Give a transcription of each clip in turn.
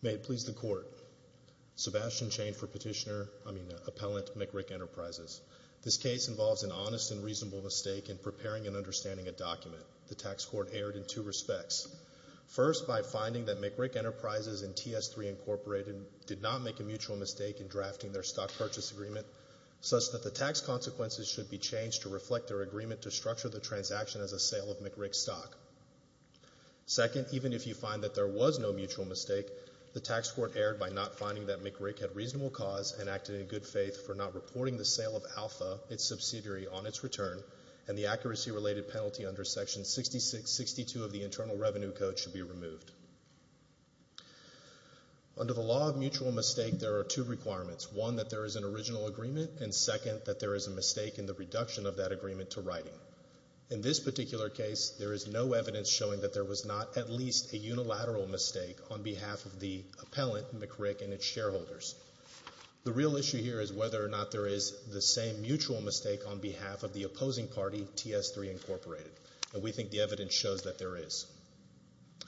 May it please the Court, Sebastian Chain for Petitioner, I mean Appellant, McRic Enterprises. This case involves an honest and reasonable mistake in preparing and understanding a document. The tax court erred in two respects. First, by finding that McRic Enterprises and TS3, Inc. did not make a mutual mistake in drafting their stock purchase agreement such that the tax consequences should be changed to reflect their agreement to structure the transaction as a sale of McRic stock. Second, even if you find that there was no mutual mistake, the tax court erred by not finding that McRic had reasonable cause and acted in good faith for not reporting the sale of Alpha, its subsidiary, on its return and the accuracy related penalty under Section 6662 of the Internal Revenue Code should be removed. Under the law of mutual mistake, there are two requirements. One, that there is an original agreement, and second, that there is a mistake in the reduction of that agreement to writing. In this particular case, there is no evidence showing that there was not at least a unilateral mistake on behalf of the appellant, McRic, and its shareholders. The real issue here is whether or not there is the same mutual mistake on behalf of the opposing party, TS3, Inc. And we think the evidence shows that there is.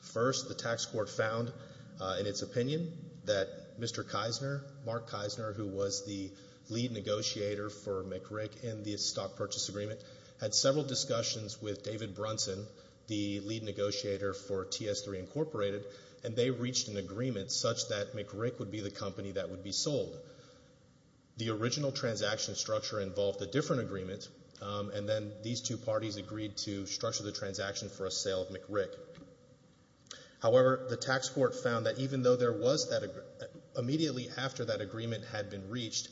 First, the tax court found in its opinion that Mr. Kisner, Mark Kisner, who was the lead negotiator for McRic in the stock purchase agreement, had several discussions with David Brunson, the lead negotiator for TS3, Inc., and they reached an agreement such that McRic would be the company that would be sold. The original transaction structure involved a different agreement, and then these two parties agreed to structure the transaction for a sale of McRic. However, the tax court found that even though there was that, immediately after that agreement had been reached,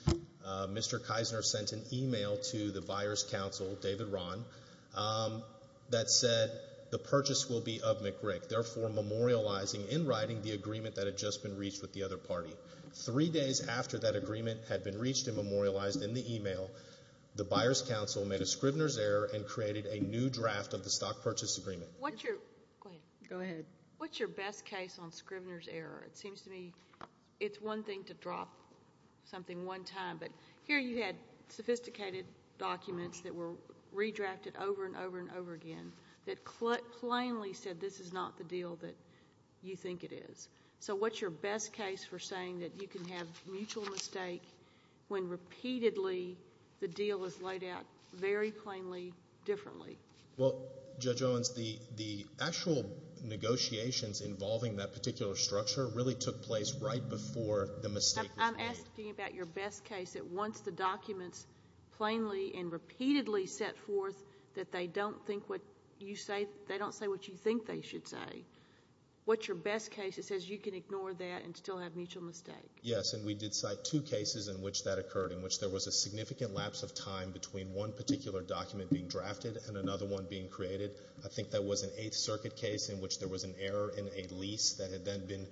Mr. Kisner sent an email to the buyer's counsel, David Rahn, that said, the purchase will be of McRic, therefore memorializing in writing the agreement that had just been reached with the other party. Three days after that agreement had been reached and memorialized in the email, the buyer's counsel made a Scrivener's error and created a new draft of the stock purchase agreement. What's your, go ahead. What's your best case on Scrivener's error? It seems to me it's one thing to drop something one time, but here you had sophisticated documents that were redrafted over and over and over again that plainly said this is not the deal that you think it is. So what's your best case for saying that you can have mutual mistake when repeatedly the deal is laid out very plainly, differently? Well, Judge Owens, the actual negotiations involving that particular structure really took place right before the mistake was made. I'm asking about your best case that once the documents plainly and repeatedly set forth that they don't think what you say, they don't say what you think they should say. What's your best case that says you can ignore that and still have mutual mistake? Yes, and we did cite two cases in which that occurred, in which there was a significant lapse of time between one particular document being drafted and another one being created. I think that was an Eighth Circuit case in which there was an error in a lease that had then been,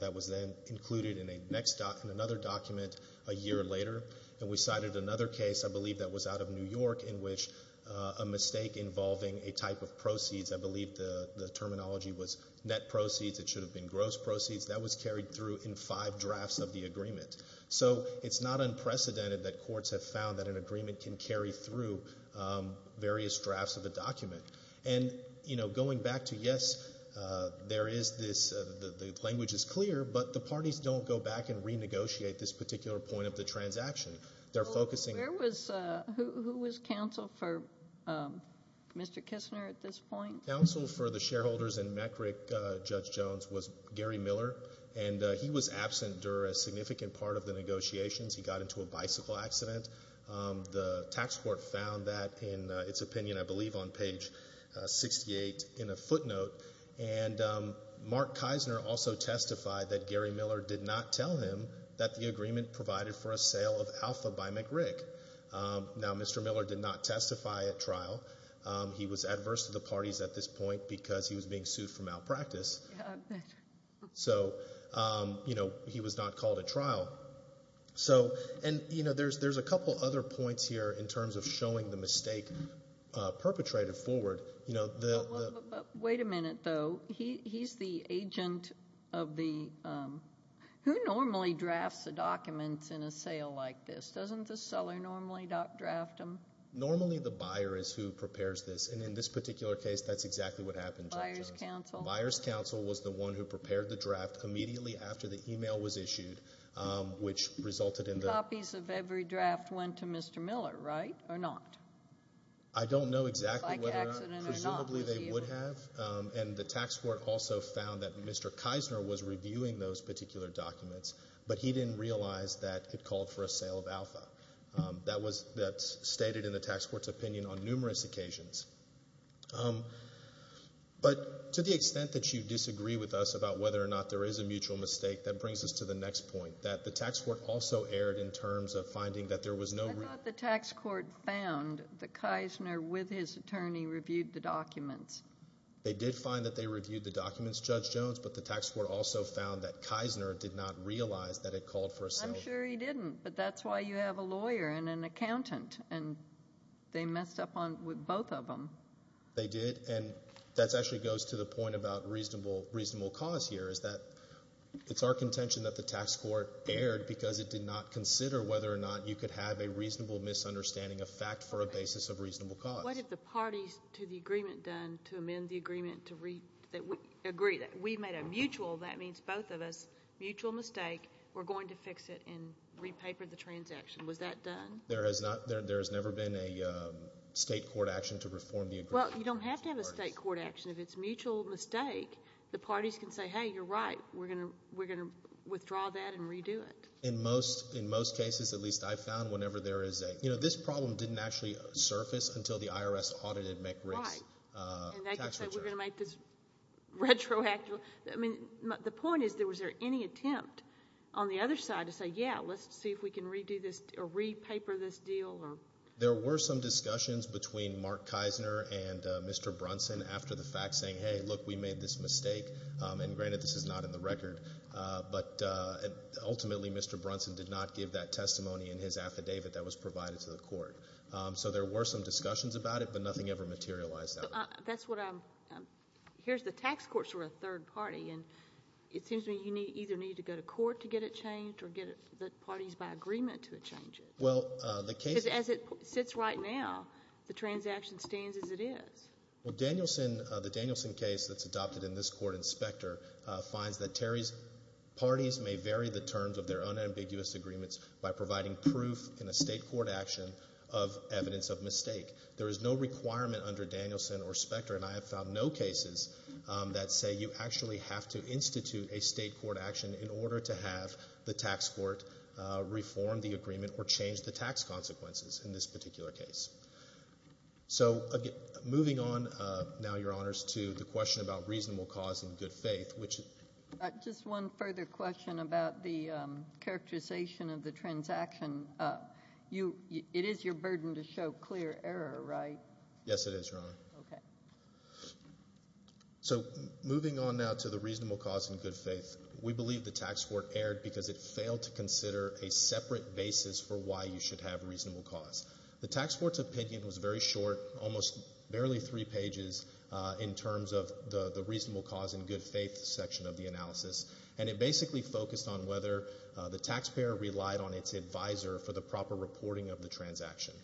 that was then included in a next, in another document a year later. And we cited another case, I believe that was out of New York, in which a mistake involving a type of proceeds, I believe the terminology was net proceeds. It should have been gross proceeds. That was carried through in five drafts of the agreement. So it's not unprecedented that courts have found that an agreement can carry through various drafts of a document. And, you know, going back to, yes, there is this, the language is clear, but the parties don't go back and renegotiate this particular point of the transaction. They're focusing. Where was, who was counsel for Mr. Kistner at this point? Counsel for the shareholders in McRick, Judge Jones, was Gary Miller. And he was absent during a significant part of the negotiations. He got into a bicycle accident. The tax court found that in its opinion, I believe on page 68 in a footnote. And Mark Kistner also testified that Gary Miller did not tell him that the agreement provided for a sale of Alpha by McRick. Now, Mr. Miller did not testify at trial. He was adverse to the parties at this point because he was being sued for malpractice. So, you know, he was not called at trial. So, and, you know, there's a couple other points here in terms of showing the mistake perpetrated forward. You know, the. Well, wait a minute, though. He's the agent of the, who normally drafts the documents in a sale like this? Doesn't the seller normally draft them? Normally, the buyer is who prepares this. And in this particular case, that's exactly what happened. Buyer's counsel. Buyer's counsel was the one who prepared the draft immediately after the email was issued, which resulted in the. Copies of every draft went to Mr. Miller, right? Or not? I don't know exactly whether. Bicycle accident or not was used. Presumably they would have. And the tax court also found that Mr. Kistner was reviewing those particular documents. But he didn't realize that it called for a sale of Alpha. That was, that's stated in the tax court's opinion on numerous occasions. But to the extent that you disagree with us about whether or not there is a mutual mistake, that brings us to the next point. That the tax court also erred in terms of finding that there was no. I thought the tax court found that Kistner, with his attorney, reviewed the documents. They did find that they reviewed the documents, Judge Jones, but the tax court also found that Kistner did not realize that it called for a sale. I'm sure he didn't. But that's why you have a lawyer and an accountant, and they messed up on, with both of them. They did, and that actually goes to the point about reasonable, reasonable cause here is that it's our contention that the tax court erred because it did not consider whether or not you could have a reasonable misunderstanding of fact for a basis of reasonable cause. What have the parties to the agreement done to amend the agreement to read, that we agree, that we made a mutual, that means both of us, mutual mistake. We're going to fix it and re-paper the transaction. Was that done? There has not, there has never been a state court action to reform the agreement. Well, you don't have to have a state court action. If it's a mutual mistake, the parties can say, hey, you're right. We're going to, we're going to withdraw that and redo it. In most, in most cases, at least I've found, whenever there is a, you know, this problem didn't actually surface until the IRS audited McRick's tax return. Right. And they could say we're going to make this retroactive. I mean, the point is, was there any attempt on the other side to say, yeah, let's see if we can redo this, or re-paper this deal, or? There were some discussions between Mark Kisner and Mr. Brunson after the fact saying, hey, look, we made this mistake, and granted this is not in the record, but ultimately Mr. Brunson did not give that testimony in his affidavit that was provided to the court. So there were some discussions about it, but nothing ever materialized out of it. That's what I'm, here's the tax courts for a third party, and it seems to me you need, either need to go to court to get it changed, or get the parties by agreement to change it. Well, the case. Because as it sits right now, the transaction stands as it is. Well, Danielson, the Danielson case that's adopted in this court, Inspector, finds that Terry's parties may vary the terms of their unambiguous agreements by providing proof in a state court action of evidence of mistake. There is no requirement under Danielson or Specter, and I have found no cases that say you actually have to institute a state court action in order to have the tax court reform the agreement or change the tax consequences in this particular case. So, moving on now, Your Honors, to the question about reasonable cause and good faith, which. Just one further question about the characterization of the transaction. You, it is your burden to show clear error, right? Yes, it is, Your Honor. Okay. So, moving on now to the reasonable cause and good faith, we believe the tax court erred because it failed to consider a separate basis for why you should have reasonable cause. The tax court's opinion was very short, almost barely three pages in terms of the reasonable cause and good faith section of the analysis, and it basically focused on whether the taxpayer relied on its advisor for the proper reporting of the transaction.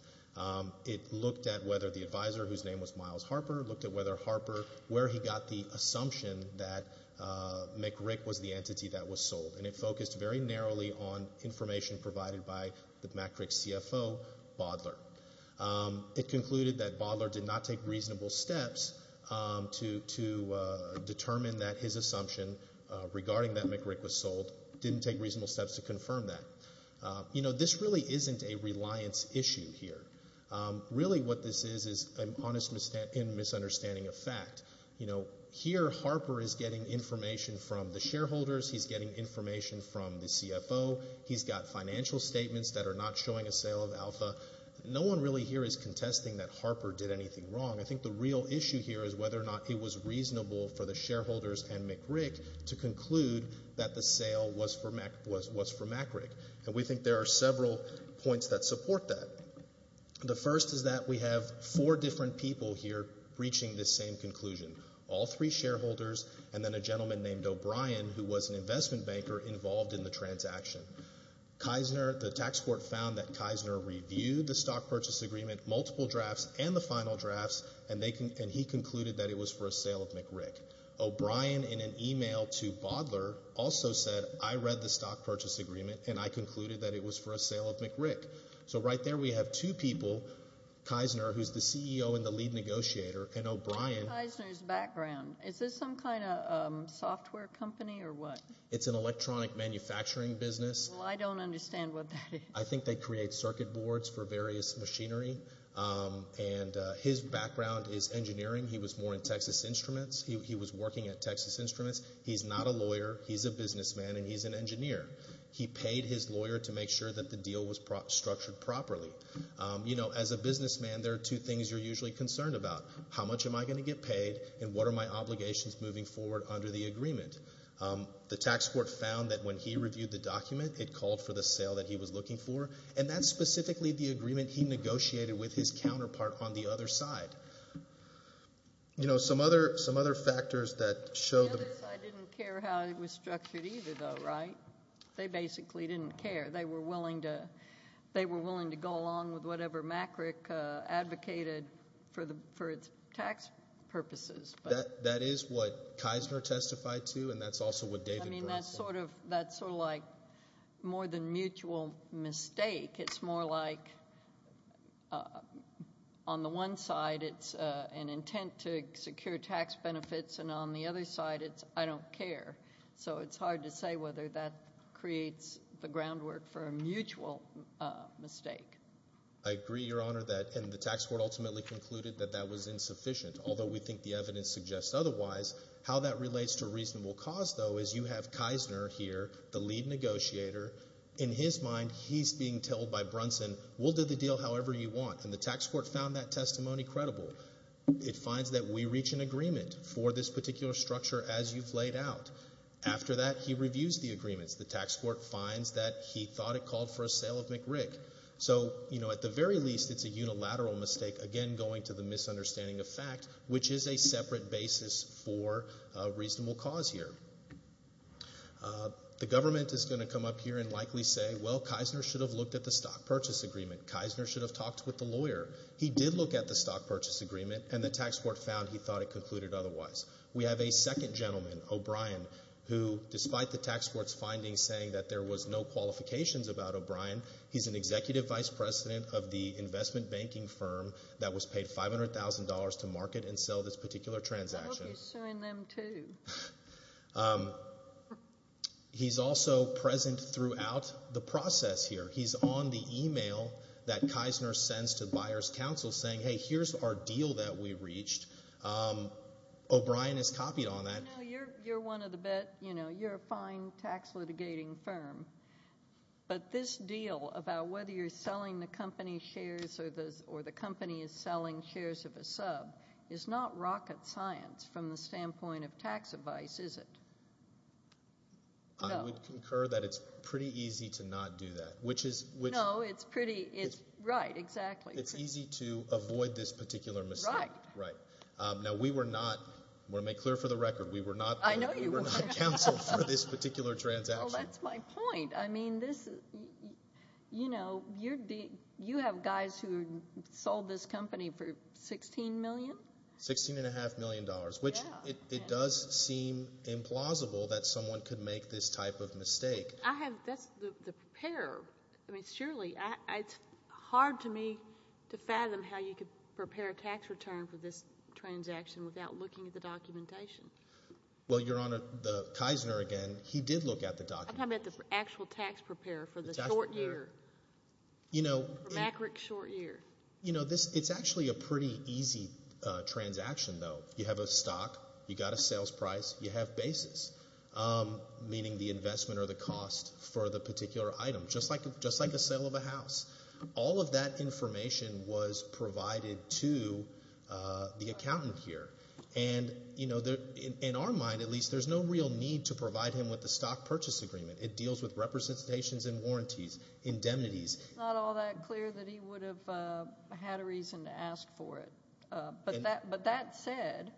It looked at whether the advisor, whose name was Miles Harper, looked at whether Harper, where he got the assumption that McRick was the entity that was sold, and it focused very narrowly on information provided by the McRick CFO, Bodler. It concluded that Bodler did not take reasonable steps to determine that his assumption regarding that McRick was sold didn't take reasonable steps to confirm that. You know, this really isn't a reliance issue here. Really, what this is, is an honest misunderstanding of fact. You know, here, Harper is getting information from the shareholders. He's getting information from the CFO. He's got financial statements that are not showing a sale of Alpha. No one really here is contesting that Harper did anything wrong. I think the real issue here is whether or not it was reasonable for the shareholders and McRick to conclude that the sale was for McRick. And we think there are several points that support that. The first is that we have four different people here reaching this same conclusion. All three shareholders, and then a gentleman named O'Brien, who was an investment banker, involved in the transaction. Kisner, the tax court found that Kisner reviewed the stock purchase agreement, multiple drafts, and the final drafts, and he concluded that it was for a sale of McRick. O'Brien, in an email to Bodler, also said, I read the stock purchase agreement, and I concluded that it was for a sale of McRick. So, right there, we have two people, Kisner, who's the CEO and the lead negotiator, and O'Brien. What's Kisner's background? Is this some kind of software company, or what? It's an electronic manufacturing business. Well, I don't understand what that is. I think they create circuit boards for various machinery, and his background is engineering. He was more in Texas Instruments. He was working at Texas Instruments. He's not a lawyer. He's a businessman, and he's an engineer. He paid his lawyer to make sure that the deal was structured properly. You know, as a businessman, there are two things you're usually concerned about. How much am I going to get paid, and what are my obligations moving forward under the agreement? The tax court found that when he reviewed the document, it called for the sale that he was looking for, and that's specifically the agreement he negotiated with his counterpart on the other side. You know, some other factors that show the... The other side didn't care how it was structured either, though, right? They basically didn't care. They were willing to go along with whatever MACRC advocated for its tax purposes. That is what Kisner testified to, and that's also what David... I mean, that's sort of like more than mutual mistake. It's more like on the one side, it's an intent to secure tax benefits, and on the other side, it's I don't care. So it's hard to say whether that creates the groundwork for a mutual mistake. I agree, Your Honor, that... And the tax court ultimately concluded that that was insufficient, although we think the evidence suggests otherwise. How that relates to reasonable cause, though, is you have Kisner here, the lead negotiator. In his mind, he's being told by Brunson, we'll do the deal however you want, and the tax court found that testimony credible. It finds that we reach an agreement for this particular structure as you've laid out. After that, he reviews the agreements. The tax court finds that he thought it called for a sale of MACRC. So, you know, at the very least, it's a unilateral mistake, again, going to the misunderstanding of fact, which is a separate basis for a reasonable cause here. The government is going to come up here and likely say, well, Kisner should have looked at the stock purchase agreement. Kisner should have talked with the lawyer. He did look at the stock purchase agreement, and the tax court found he thought it concluded otherwise. We have a second gentleman, O'Brien, who, despite the tax court's findings saying that there was no qualifications about O'Brien, he's an executive vice president of the investment banking firm that was paid $500,000 to market and sell this particular transaction. I hope he's suing them, too. He's also present throughout the process here. He's on the email that Kisner sends to buyer's counsel saying, hey, here's our deal that we reached. O'Brien has copied on that. You know, you're one of the best, you know, you're a fine tax litigating firm, but this deal about whether you're selling the company's shares or the company is selling shares of a sub is not rocket science from the standpoint of tax advice, is it? No. I would concur that it's pretty easy to not do that, which is, which. No, it's pretty, it's, right, exactly. It's easy to avoid this particular mistake. Right. Right. Now, we were not, I want to make clear for the record, we were not. I know you weren't. We were not counseled for this particular transaction. Well, that's my point. I mean, this, you know, you're, you have guys who sold this company for $16 million. Sixteen and a half million dollars, which it does seem implausible that someone could make this type of mistake. I have, that's, the preparer, I mean, surely, I, it's hard to me to fathom how you could prepare a tax return for this transaction without looking at the documentation. Well, Your Honor, the, Kisner again, he did look at the document. I'm talking about the actual tax preparer for the short year. You know. For Mack Rick's short year. You know, this, it's actually a pretty easy transaction, though. You have a stock, you got a sales price, you have basis, meaning the investment or the cost for the particular item, just like, just like a sale of a house. All of that information was provided to the accountant here. And, you know, in our mind, at least, there's no real need to provide him with the stock purchase agreement. It deals with representations and warranties, indemnities. It's not all that clear that he would have had a reason to ask for it. But that, but that said,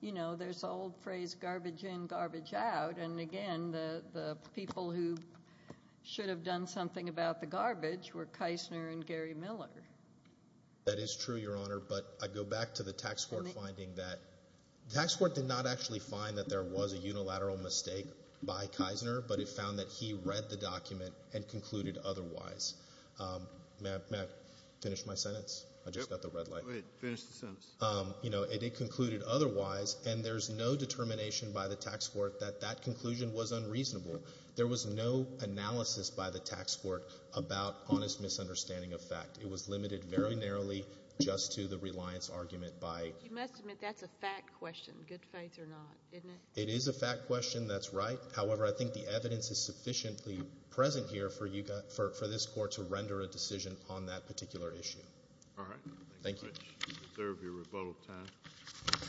you know, there's the old phrase, garbage in, garbage out. And again, the people who should have done something about the garbage were Kisner and Gary Miller. That is true, Your Honor. But I go back to the tax court finding that, the tax court did not actually find that there was a unilateral mistake by Kisner, but it found that he read the document and concluded otherwise. May I finish my sentence? I just got the red light. Go ahead. Finish the sentence. You know, it did conclude otherwise, and there's no determination by the tax court that that conclusion was unreasonable. There was no analysis by the tax court about honest misunderstanding of fact. It was limited very narrowly just to the reliance argument by. You must admit that's a fact question, good faith or not, isn't it? It is a fact question. That's right. However, I think the evidence is sufficiently present here for you, for this court to render a decision on that particular issue. All right. Thank you. Thank you very much. You deserve your rebuttal time.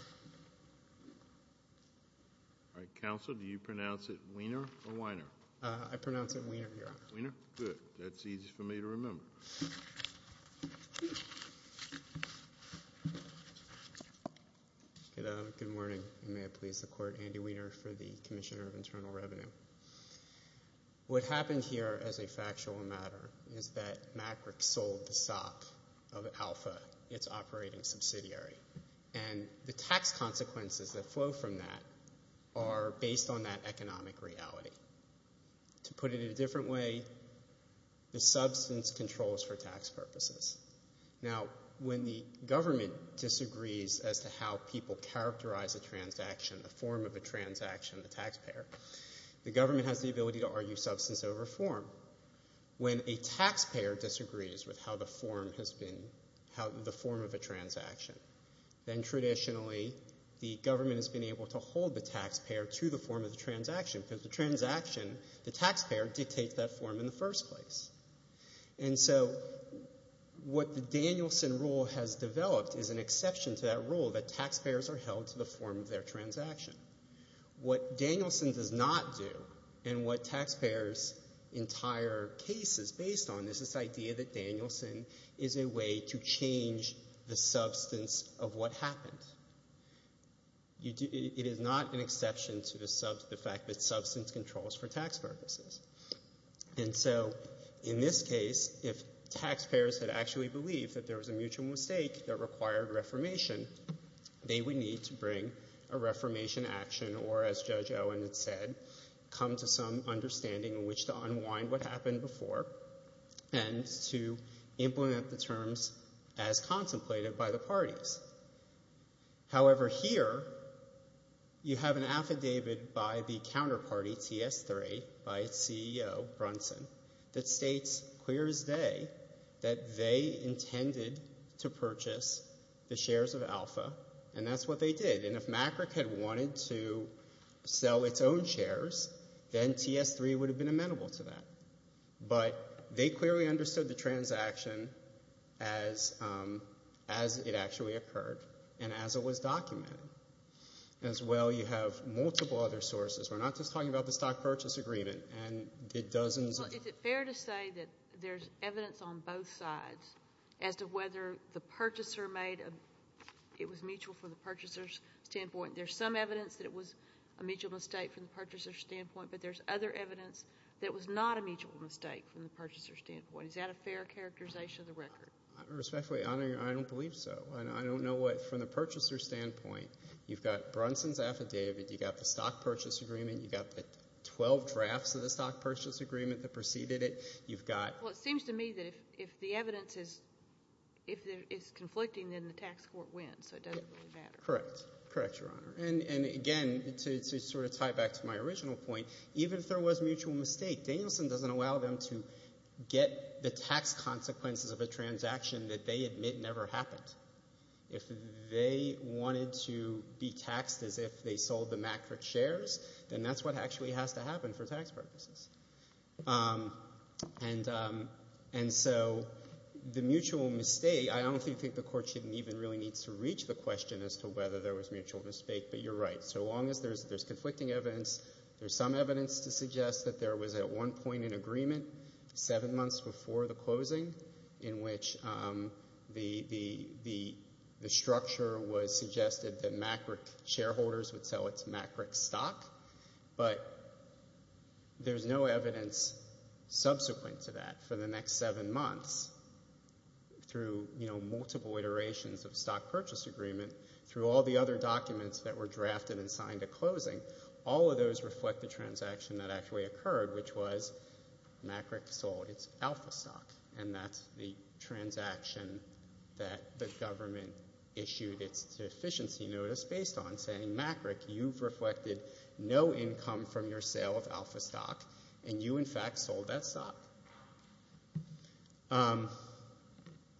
All right. Counsel, do you pronounce it Weiner or Weiner? I pronounce it Weiner, Your Honor. Weiner? Good. That's easy for me to remember. Good morning, and may it please the court. Andy Weiner for the Commissioner of Internal Revenue. What happened here as a factual matter is that MacRick sold the SOP of Alpha, its operating subsidiary, and the tax consequences that flow from that are based on that economic reality. To put it in a different way, the substance controls for tax purposes. Now, when the government disagrees as to how people characterize a transaction, the form of a transaction, the taxpayer, the government has the ability to argue substance over form, when a taxpayer disagrees with how the form has been, how the form of a transaction, then traditionally, the government has been able to hold the taxpayer to the form of the transaction, because the transaction, the taxpayer dictates that form in the first place. And so, what the Danielson rule has developed is an exception to that rule that taxpayers are held to the form of their transaction. What Danielson does not do, and what taxpayers' entire case is based on, is this idea that Danielson is a way to change the substance of what happened. It is not an exception to the fact that substance controls for tax purposes. And so, in this case, if taxpayers had actually believed that there was a mutual mistake that required reformation, they would need to bring a reformation action or, as Judge Owen had said, come to some understanding in which to unwind what happened before and to implement the terms as contemplated by the parties. However, here, you have an affidavit by the counterparty, TS3, by its CEO, Brunson, that states, clear as day, that they intended to purchase the shares of Alpha, and that's what they did. And if MACRC had wanted to sell its own shares, then TS3 would have been amenable to that. But they clearly understood the transaction as it actually occurred and as it was documented. As well, you have multiple other sources. We're not just talking about the stock purchase agreement and the dozens of... Well, is it fair to say that there's evidence on both sides as to whether the purchaser made a... It was mutual from the purchaser's standpoint. There's some evidence that it was a mutual mistake from the purchaser's standpoint, but there's other evidence that it was not a mutual mistake from the purchaser's standpoint. Is that a fair characterization of the record? Respectfully, Your Honor, I don't believe so. And I don't know what, from the purchaser's standpoint, you've got Brunson's affidavit, you've got the stock purchase agreement, you've got the 12 drafts of the stock purchase agreement that preceded it, you've got... Well, it seems to me that if the evidence is conflicting, then the tax court wins, so it doesn't really matter. Correct. Correct, Your Honor. And again, to sort of tie back to my original point, even if there was mutual mistake, Danielson doesn't allow them to get the tax consequences of a transaction that they admit never happened. If they wanted to be taxed as if they sold the MACRC shares, then that's what actually has to happen for tax purposes. And so the mutual mistake, I don't think the court even really needs to reach the question as to whether there was mutual mistake, but you're right. So long as there's conflicting evidence, there's some evidence to suggest that there was at one point in agreement, seven months before the closing, in which the structure was suggested that MACRC shareholders would sell its MACRC stock. But there's no evidence subsequent to that for the next seven months through, you know, multiple iterations of stock purchase agreement, through all the other documents that were drafted and signed at closing, all of those reflect the transaction that actually occurred, which was MACRC sold its alpha stock. And that's the transaction that the government issued its deficiency notice based on, saying MACRC, you've reflected no income from your sale of alpha stock, and you in fact sold that stock.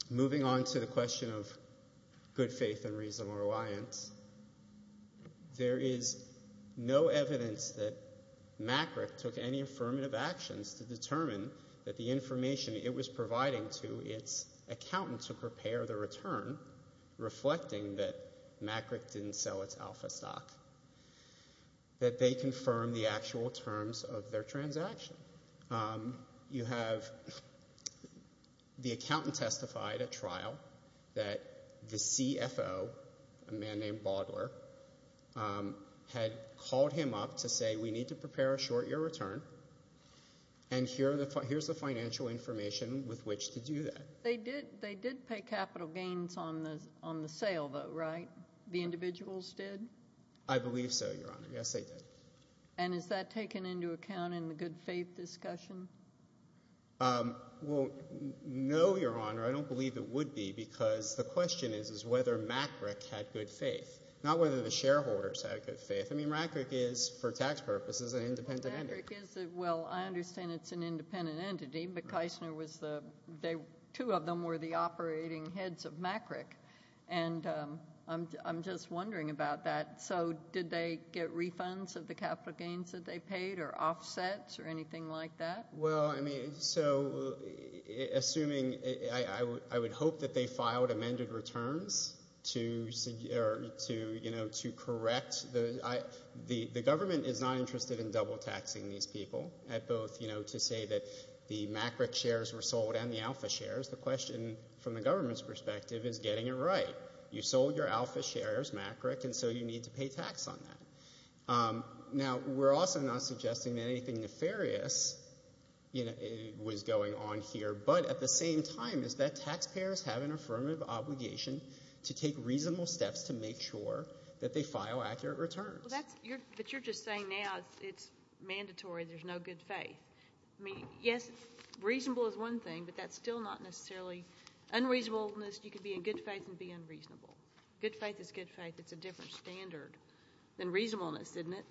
Moving on to the question of good faith and reasonable reliance, there is no evidence that MACRC took any affirmative actions to determine that the information it was providing to its accountant to prepare the return, reflecting that MACRC didn't sell its alpha stock, that they confirmed the actual terms of their transaction. You have the accountant testified at trial that the CFO, a man named Baudler, had called him up to say, we need to prepare a short year return, and here's the financial information with which to do that. They did pay capital gains on the sale though, right? The individuals did? I believe so, Your Honor. Yes, they did. And is that taken into account in the good faith discussion? Well, no, Your Honor. I don't believe it would be, because the question is whether MACRC had good faith, not whether the shareholders had good faith. I mean, MACRC is, for tax purposes, an independent entity. MACRC is a, well, I understand it's an independent entity, but Keisner was the, they, two of them were the operating heads of MACRC, and I'm just wondering about that. So did they get refunds of the capital gains that they paid, or offsets, or anything like that? Well, I mean, so assuming, I would hope that they filed amended returns to, you know, to correct the, I, the government is not interested in double taxing these people at both, you know, to say that the MACRC shares were sold and the alpha shares. The question, from the government's perspective, is getting it right. You sold your alpha shares, MACRC, and so you need to pay tax on that. Now, we're also not suggesting that anything nefarious, you know, was going on here, but at the same time is that taxpayers have an affirmative obligation to take reasonable steps to make sure that they file accurate returns. Well, that's, you're, but you're just saying now it's mandatory, there's no good faith. I mean, yes, reasonable is one thing, but that's still not necessarily unreasonableness. You can be in good faith and be unreasonable. Good faith is good faith. It's a different standard than reasonableness, isn't it?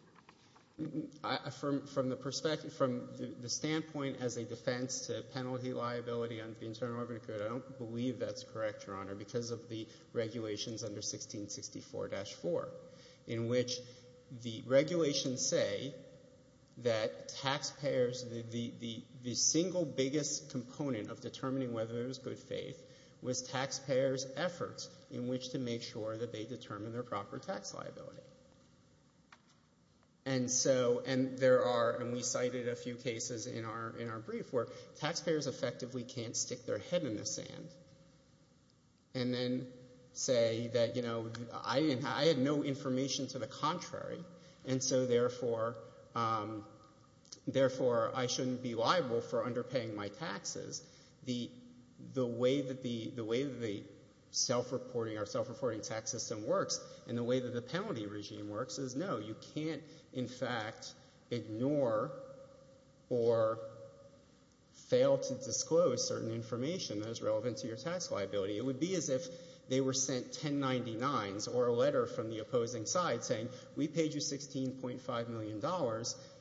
I, from, from the perspective, from the standpoint as a defense to penalty liability under the Internal Revenue Code, I don't believe that's correct, Your Honor, because of the regulations under 1664-4, in which the regulations say that taxpayers, the, the, the single biggest component of determining whether it was good faith was taxpayers' efforts in which to make sure that they determine their proper tax liability. And so, and there are, and we cited a few cases in our, in our brief where taxpayers effectively can't stick their head in the sand. And then say that, you know, I didn't, I had no information to the contrary. And so, therefore, therefore, I shouldn't be liable for underpaying my taxes. The, the way that the, the way that the self-reporting or self-reporting tax system works and the way that the penalty regime works is no, you can't, in fact, ignore or fail to disclose certain information that is relevant to your tax liability. It would be as if they were sent 1099s or a letter from the opposing side saying, we paid you $16.5 million,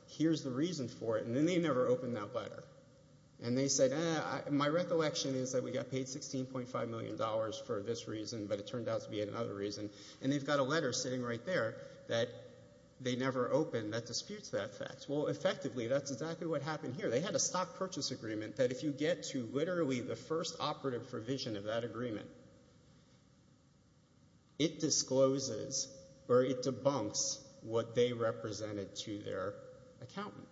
here's the reason for it. And then they never opened that letter. And they said, eh, my recollection is that we got paid $16.5 million for this reason, but it turned out to be another reason. And they've got a letter sitting right there that they never opened that disputes that fact. Well, effectively, that's exactly what happened here. They had a stock purchase agreement that if you get to literally the first operative provision of that agreement, it discloses or it debunks what they represented to their accountant.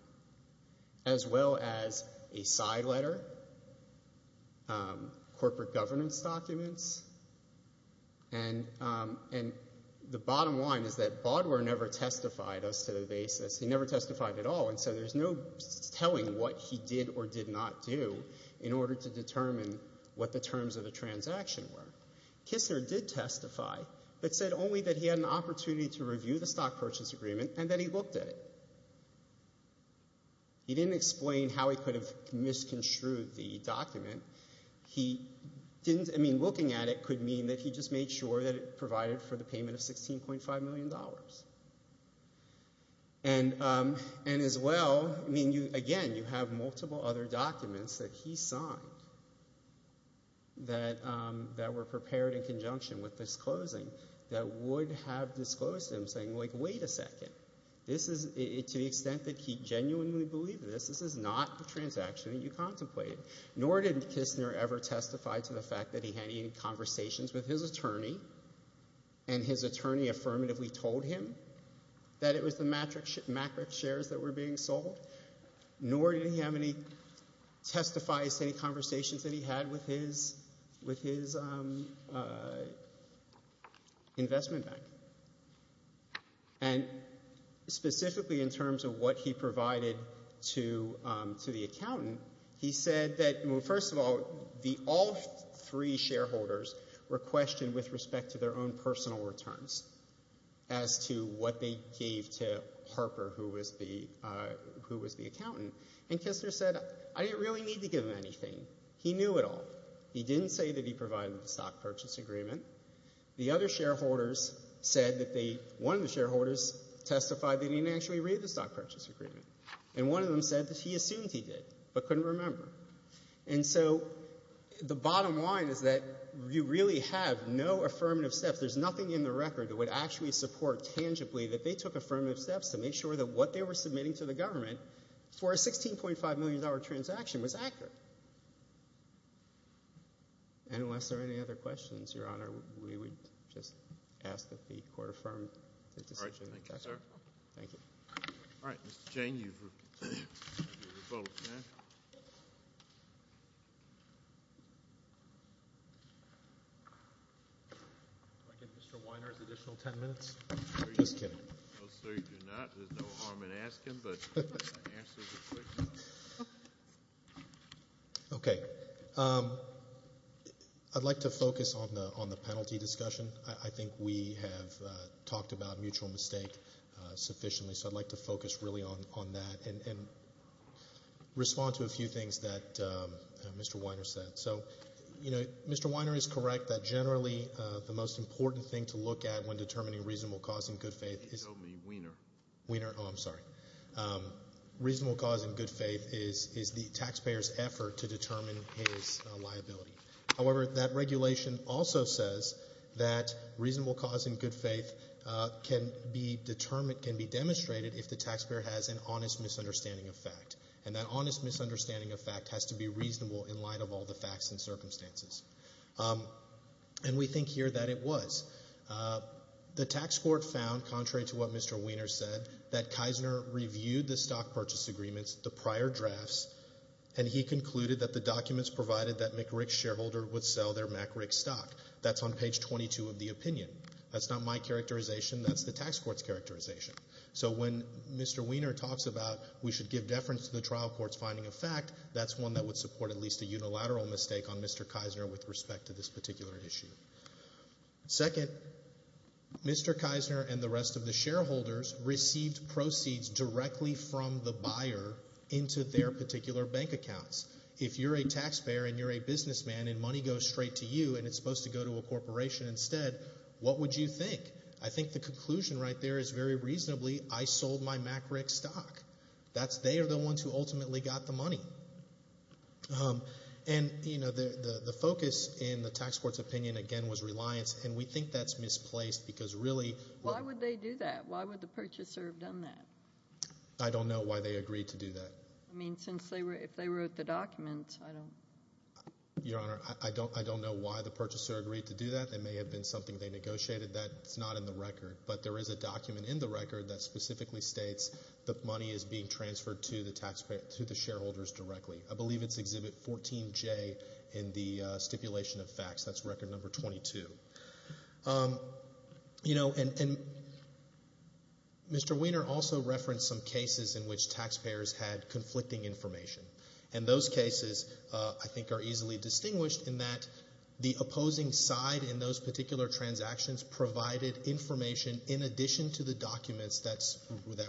As well as a side letter, corporate governance documents, and, and the bottom line is that Baudouin never testified as to the basis, he never testified at all. And so, there's no telling what he did or did not do in order to determine what the terms of the transaction were. Kisler did testify, but said only that he had an opportunity to review the stock purchase agreement and that he looked at it. He didn't explain how he could have misconstrued the document. He didn't, I mean, looking at it could mean that he just made sure that it provided for the payment of $16.5 million. And, and as well, I mean, you, again, you have multiple other documents that he signed that, that were prepared in conjunction with this closing that would have disclosed him saying, like, wait a second. This is, to the extent that he genuinely believed this, this is not the transaction that you contemplated. Nor did Kisler ever testify to the fact that he had any conversations with his attorney and his attorney affirmatively told him that it was the matrix shares that were being sold. Nor did he have any testifies to any conversations that he had with his, with his investment bank. And specifically in terms of what he provided to, to the accountant, he said that, well, three shareholders were questioned with respect to their own personal returns as to what they gave to Harper, who was the, who was the accountant. And Kisler said, I didn't really need to give him anything. He knew it all. He didn't say that he provided the stock purchase agreement. The other shareholders said that they, one of the shareholders testified that he didn't actually read the stock purchase agreement. And one of them said that he assumed he did, but couldn't remember. And so the bottom line is that you really have no affirmative steps. There's nothing in the record that would actually support tangibly that they took affirmative steps to make sure that what they were submitting to the government for a $16.5 million transaction was accurate. And unless there are any other questions, Your Honor, we would just ask that the Court affirm the decision. Thank you. Thank you, sir. Thank you. All right, Mr. Cheney, you've revoked, yeah? Can I get Mr. Weiner's additional 10 minutes? Just kidding. No, sir, you do not. There's no harm in asking, but the answers are quick. Okay. I'd like to focus on the, on the penalty discussion. I think we have talked about mutual mistake sufficiently, so I'd like to focus really on that and respond to a few things that Mr. Weiner said. So, you know, Mr. Weiner is correct that generally the most important thing to look at when determining reasonable cause and good faith is. He told me, Weiner. Weiner? Oh, I'm sorry. Reasonable cause and good faith is the taxpayer's effort to determine his liability. However, that regulation also says that reasonable cause and good faith can be determined, can be demonstrated if the taxpayer has an honest misunderstanding of fact. And that honest misunderstanding of fact has to be reasonable in light of all the facts and circumstances. And we think here that it was. The tax court found, contrary to what Mr. Weiner said, that Kisner reviewed the stock purchase agreements, the prior drafts, and he concluded that the documents provided that McRick's shareholder would sell their McRick stock. That's on page 22 of the opinion. That's not my characterization. That's the tax court's characterization. So when Mr. Weiner talks about we should give deference to the trial court's finding of fact, that's one that would support at least a unilateral mistake on Mr. Kisner with respect to this particular issue. Second, Mr. Kisner and the rest of the shareholders received proceeds directly from the buyer into their particular bank accounts. If you're a taxpayer and you're a businessman and money goes straight to you and it's supposed to go to a corporation instead, what would you think? I think the conclusion right there is very reasonably, I sold my McRick stock. That's, they are the ones who ultimately got the money. And, you know, the focus in the tax court's opinion, again, was reliance. And we think that's misplaced because really. Why would they do that? Why would the purchaser have done that? I don't know why they agreed to do that. I mean, since they were, if they wrote the document, I don't. Your Honor, I don't, I don't know why the purchaser agreed to do that. That may have been something they negotiated. That's not in the record. But there is a document in the record that specifically states that money is being transferred to the taxpayer, to the shareholders directly. I believe it's exhibit 14J in the stipulation of facts. That's record number 22. You know, and Mr. Weiner also referenced some cases in which taxpayers had conflicting information. And those cases, I think, are easily distinguished in that the opposing side in those particular transactions provided information in addition to the documents that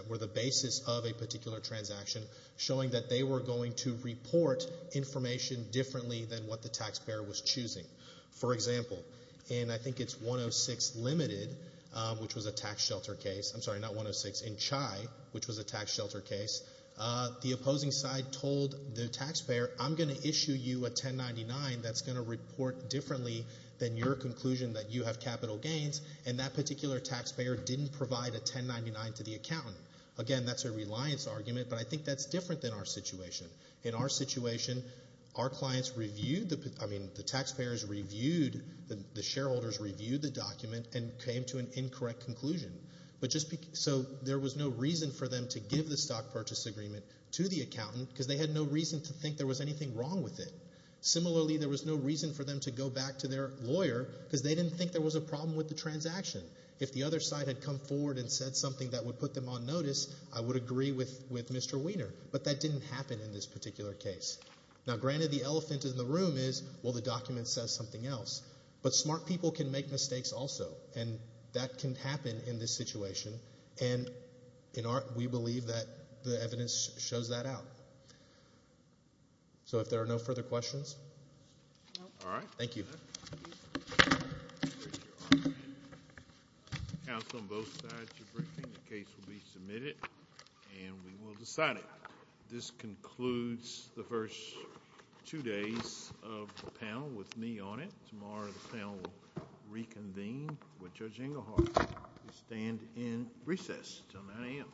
were the basis of a particular transaction, showing that they were going to report information differently than what the taxpayer was choosing. For example, and I think it's 106 limited, which was a tax shelter case. I'm sorry, not 106 in Chai, which was a tax shelter case. The opposing side told the taxpayer, I'm going to issue you a 1099 that's going to report differently than your conclusion that you have capital gains. And that particular taxpayer didn't provide a 1099 to the accountant. Again, that's a reliance argument. But I think that's different than our situation. In our situation, our clients reviewed, I mean, the taxpayers reviewed, the shareholders reviewed the document and came to an incorrect conclusion. But just so there was no reason for them to give the stock purchase agreement to the accountant because they had no reason to think there was anything wrong with it. Similarly, there was no reason for them to go back to their lawyer because they didn't think there was a problem with the transaction. If the other side had come forward and said something that would put them on notice, I would agree with Mr. Weiner. But that didn't happen in this particular case. Now, granted, the elephant in the room is, well, the document says something else. But smart people can make mistakes also. And that can happen in this situation. And we believe that the evidence shows that out. So if there are no further questions. All right. Thank you. Counsel on both sides of the briefing, the case will be submitted and we will decide it. This concludes the first two days of the panel with me on it. Tomorrow, the panel will reconvene with Judge Engelhardt. We stand in recess until 9 a.m.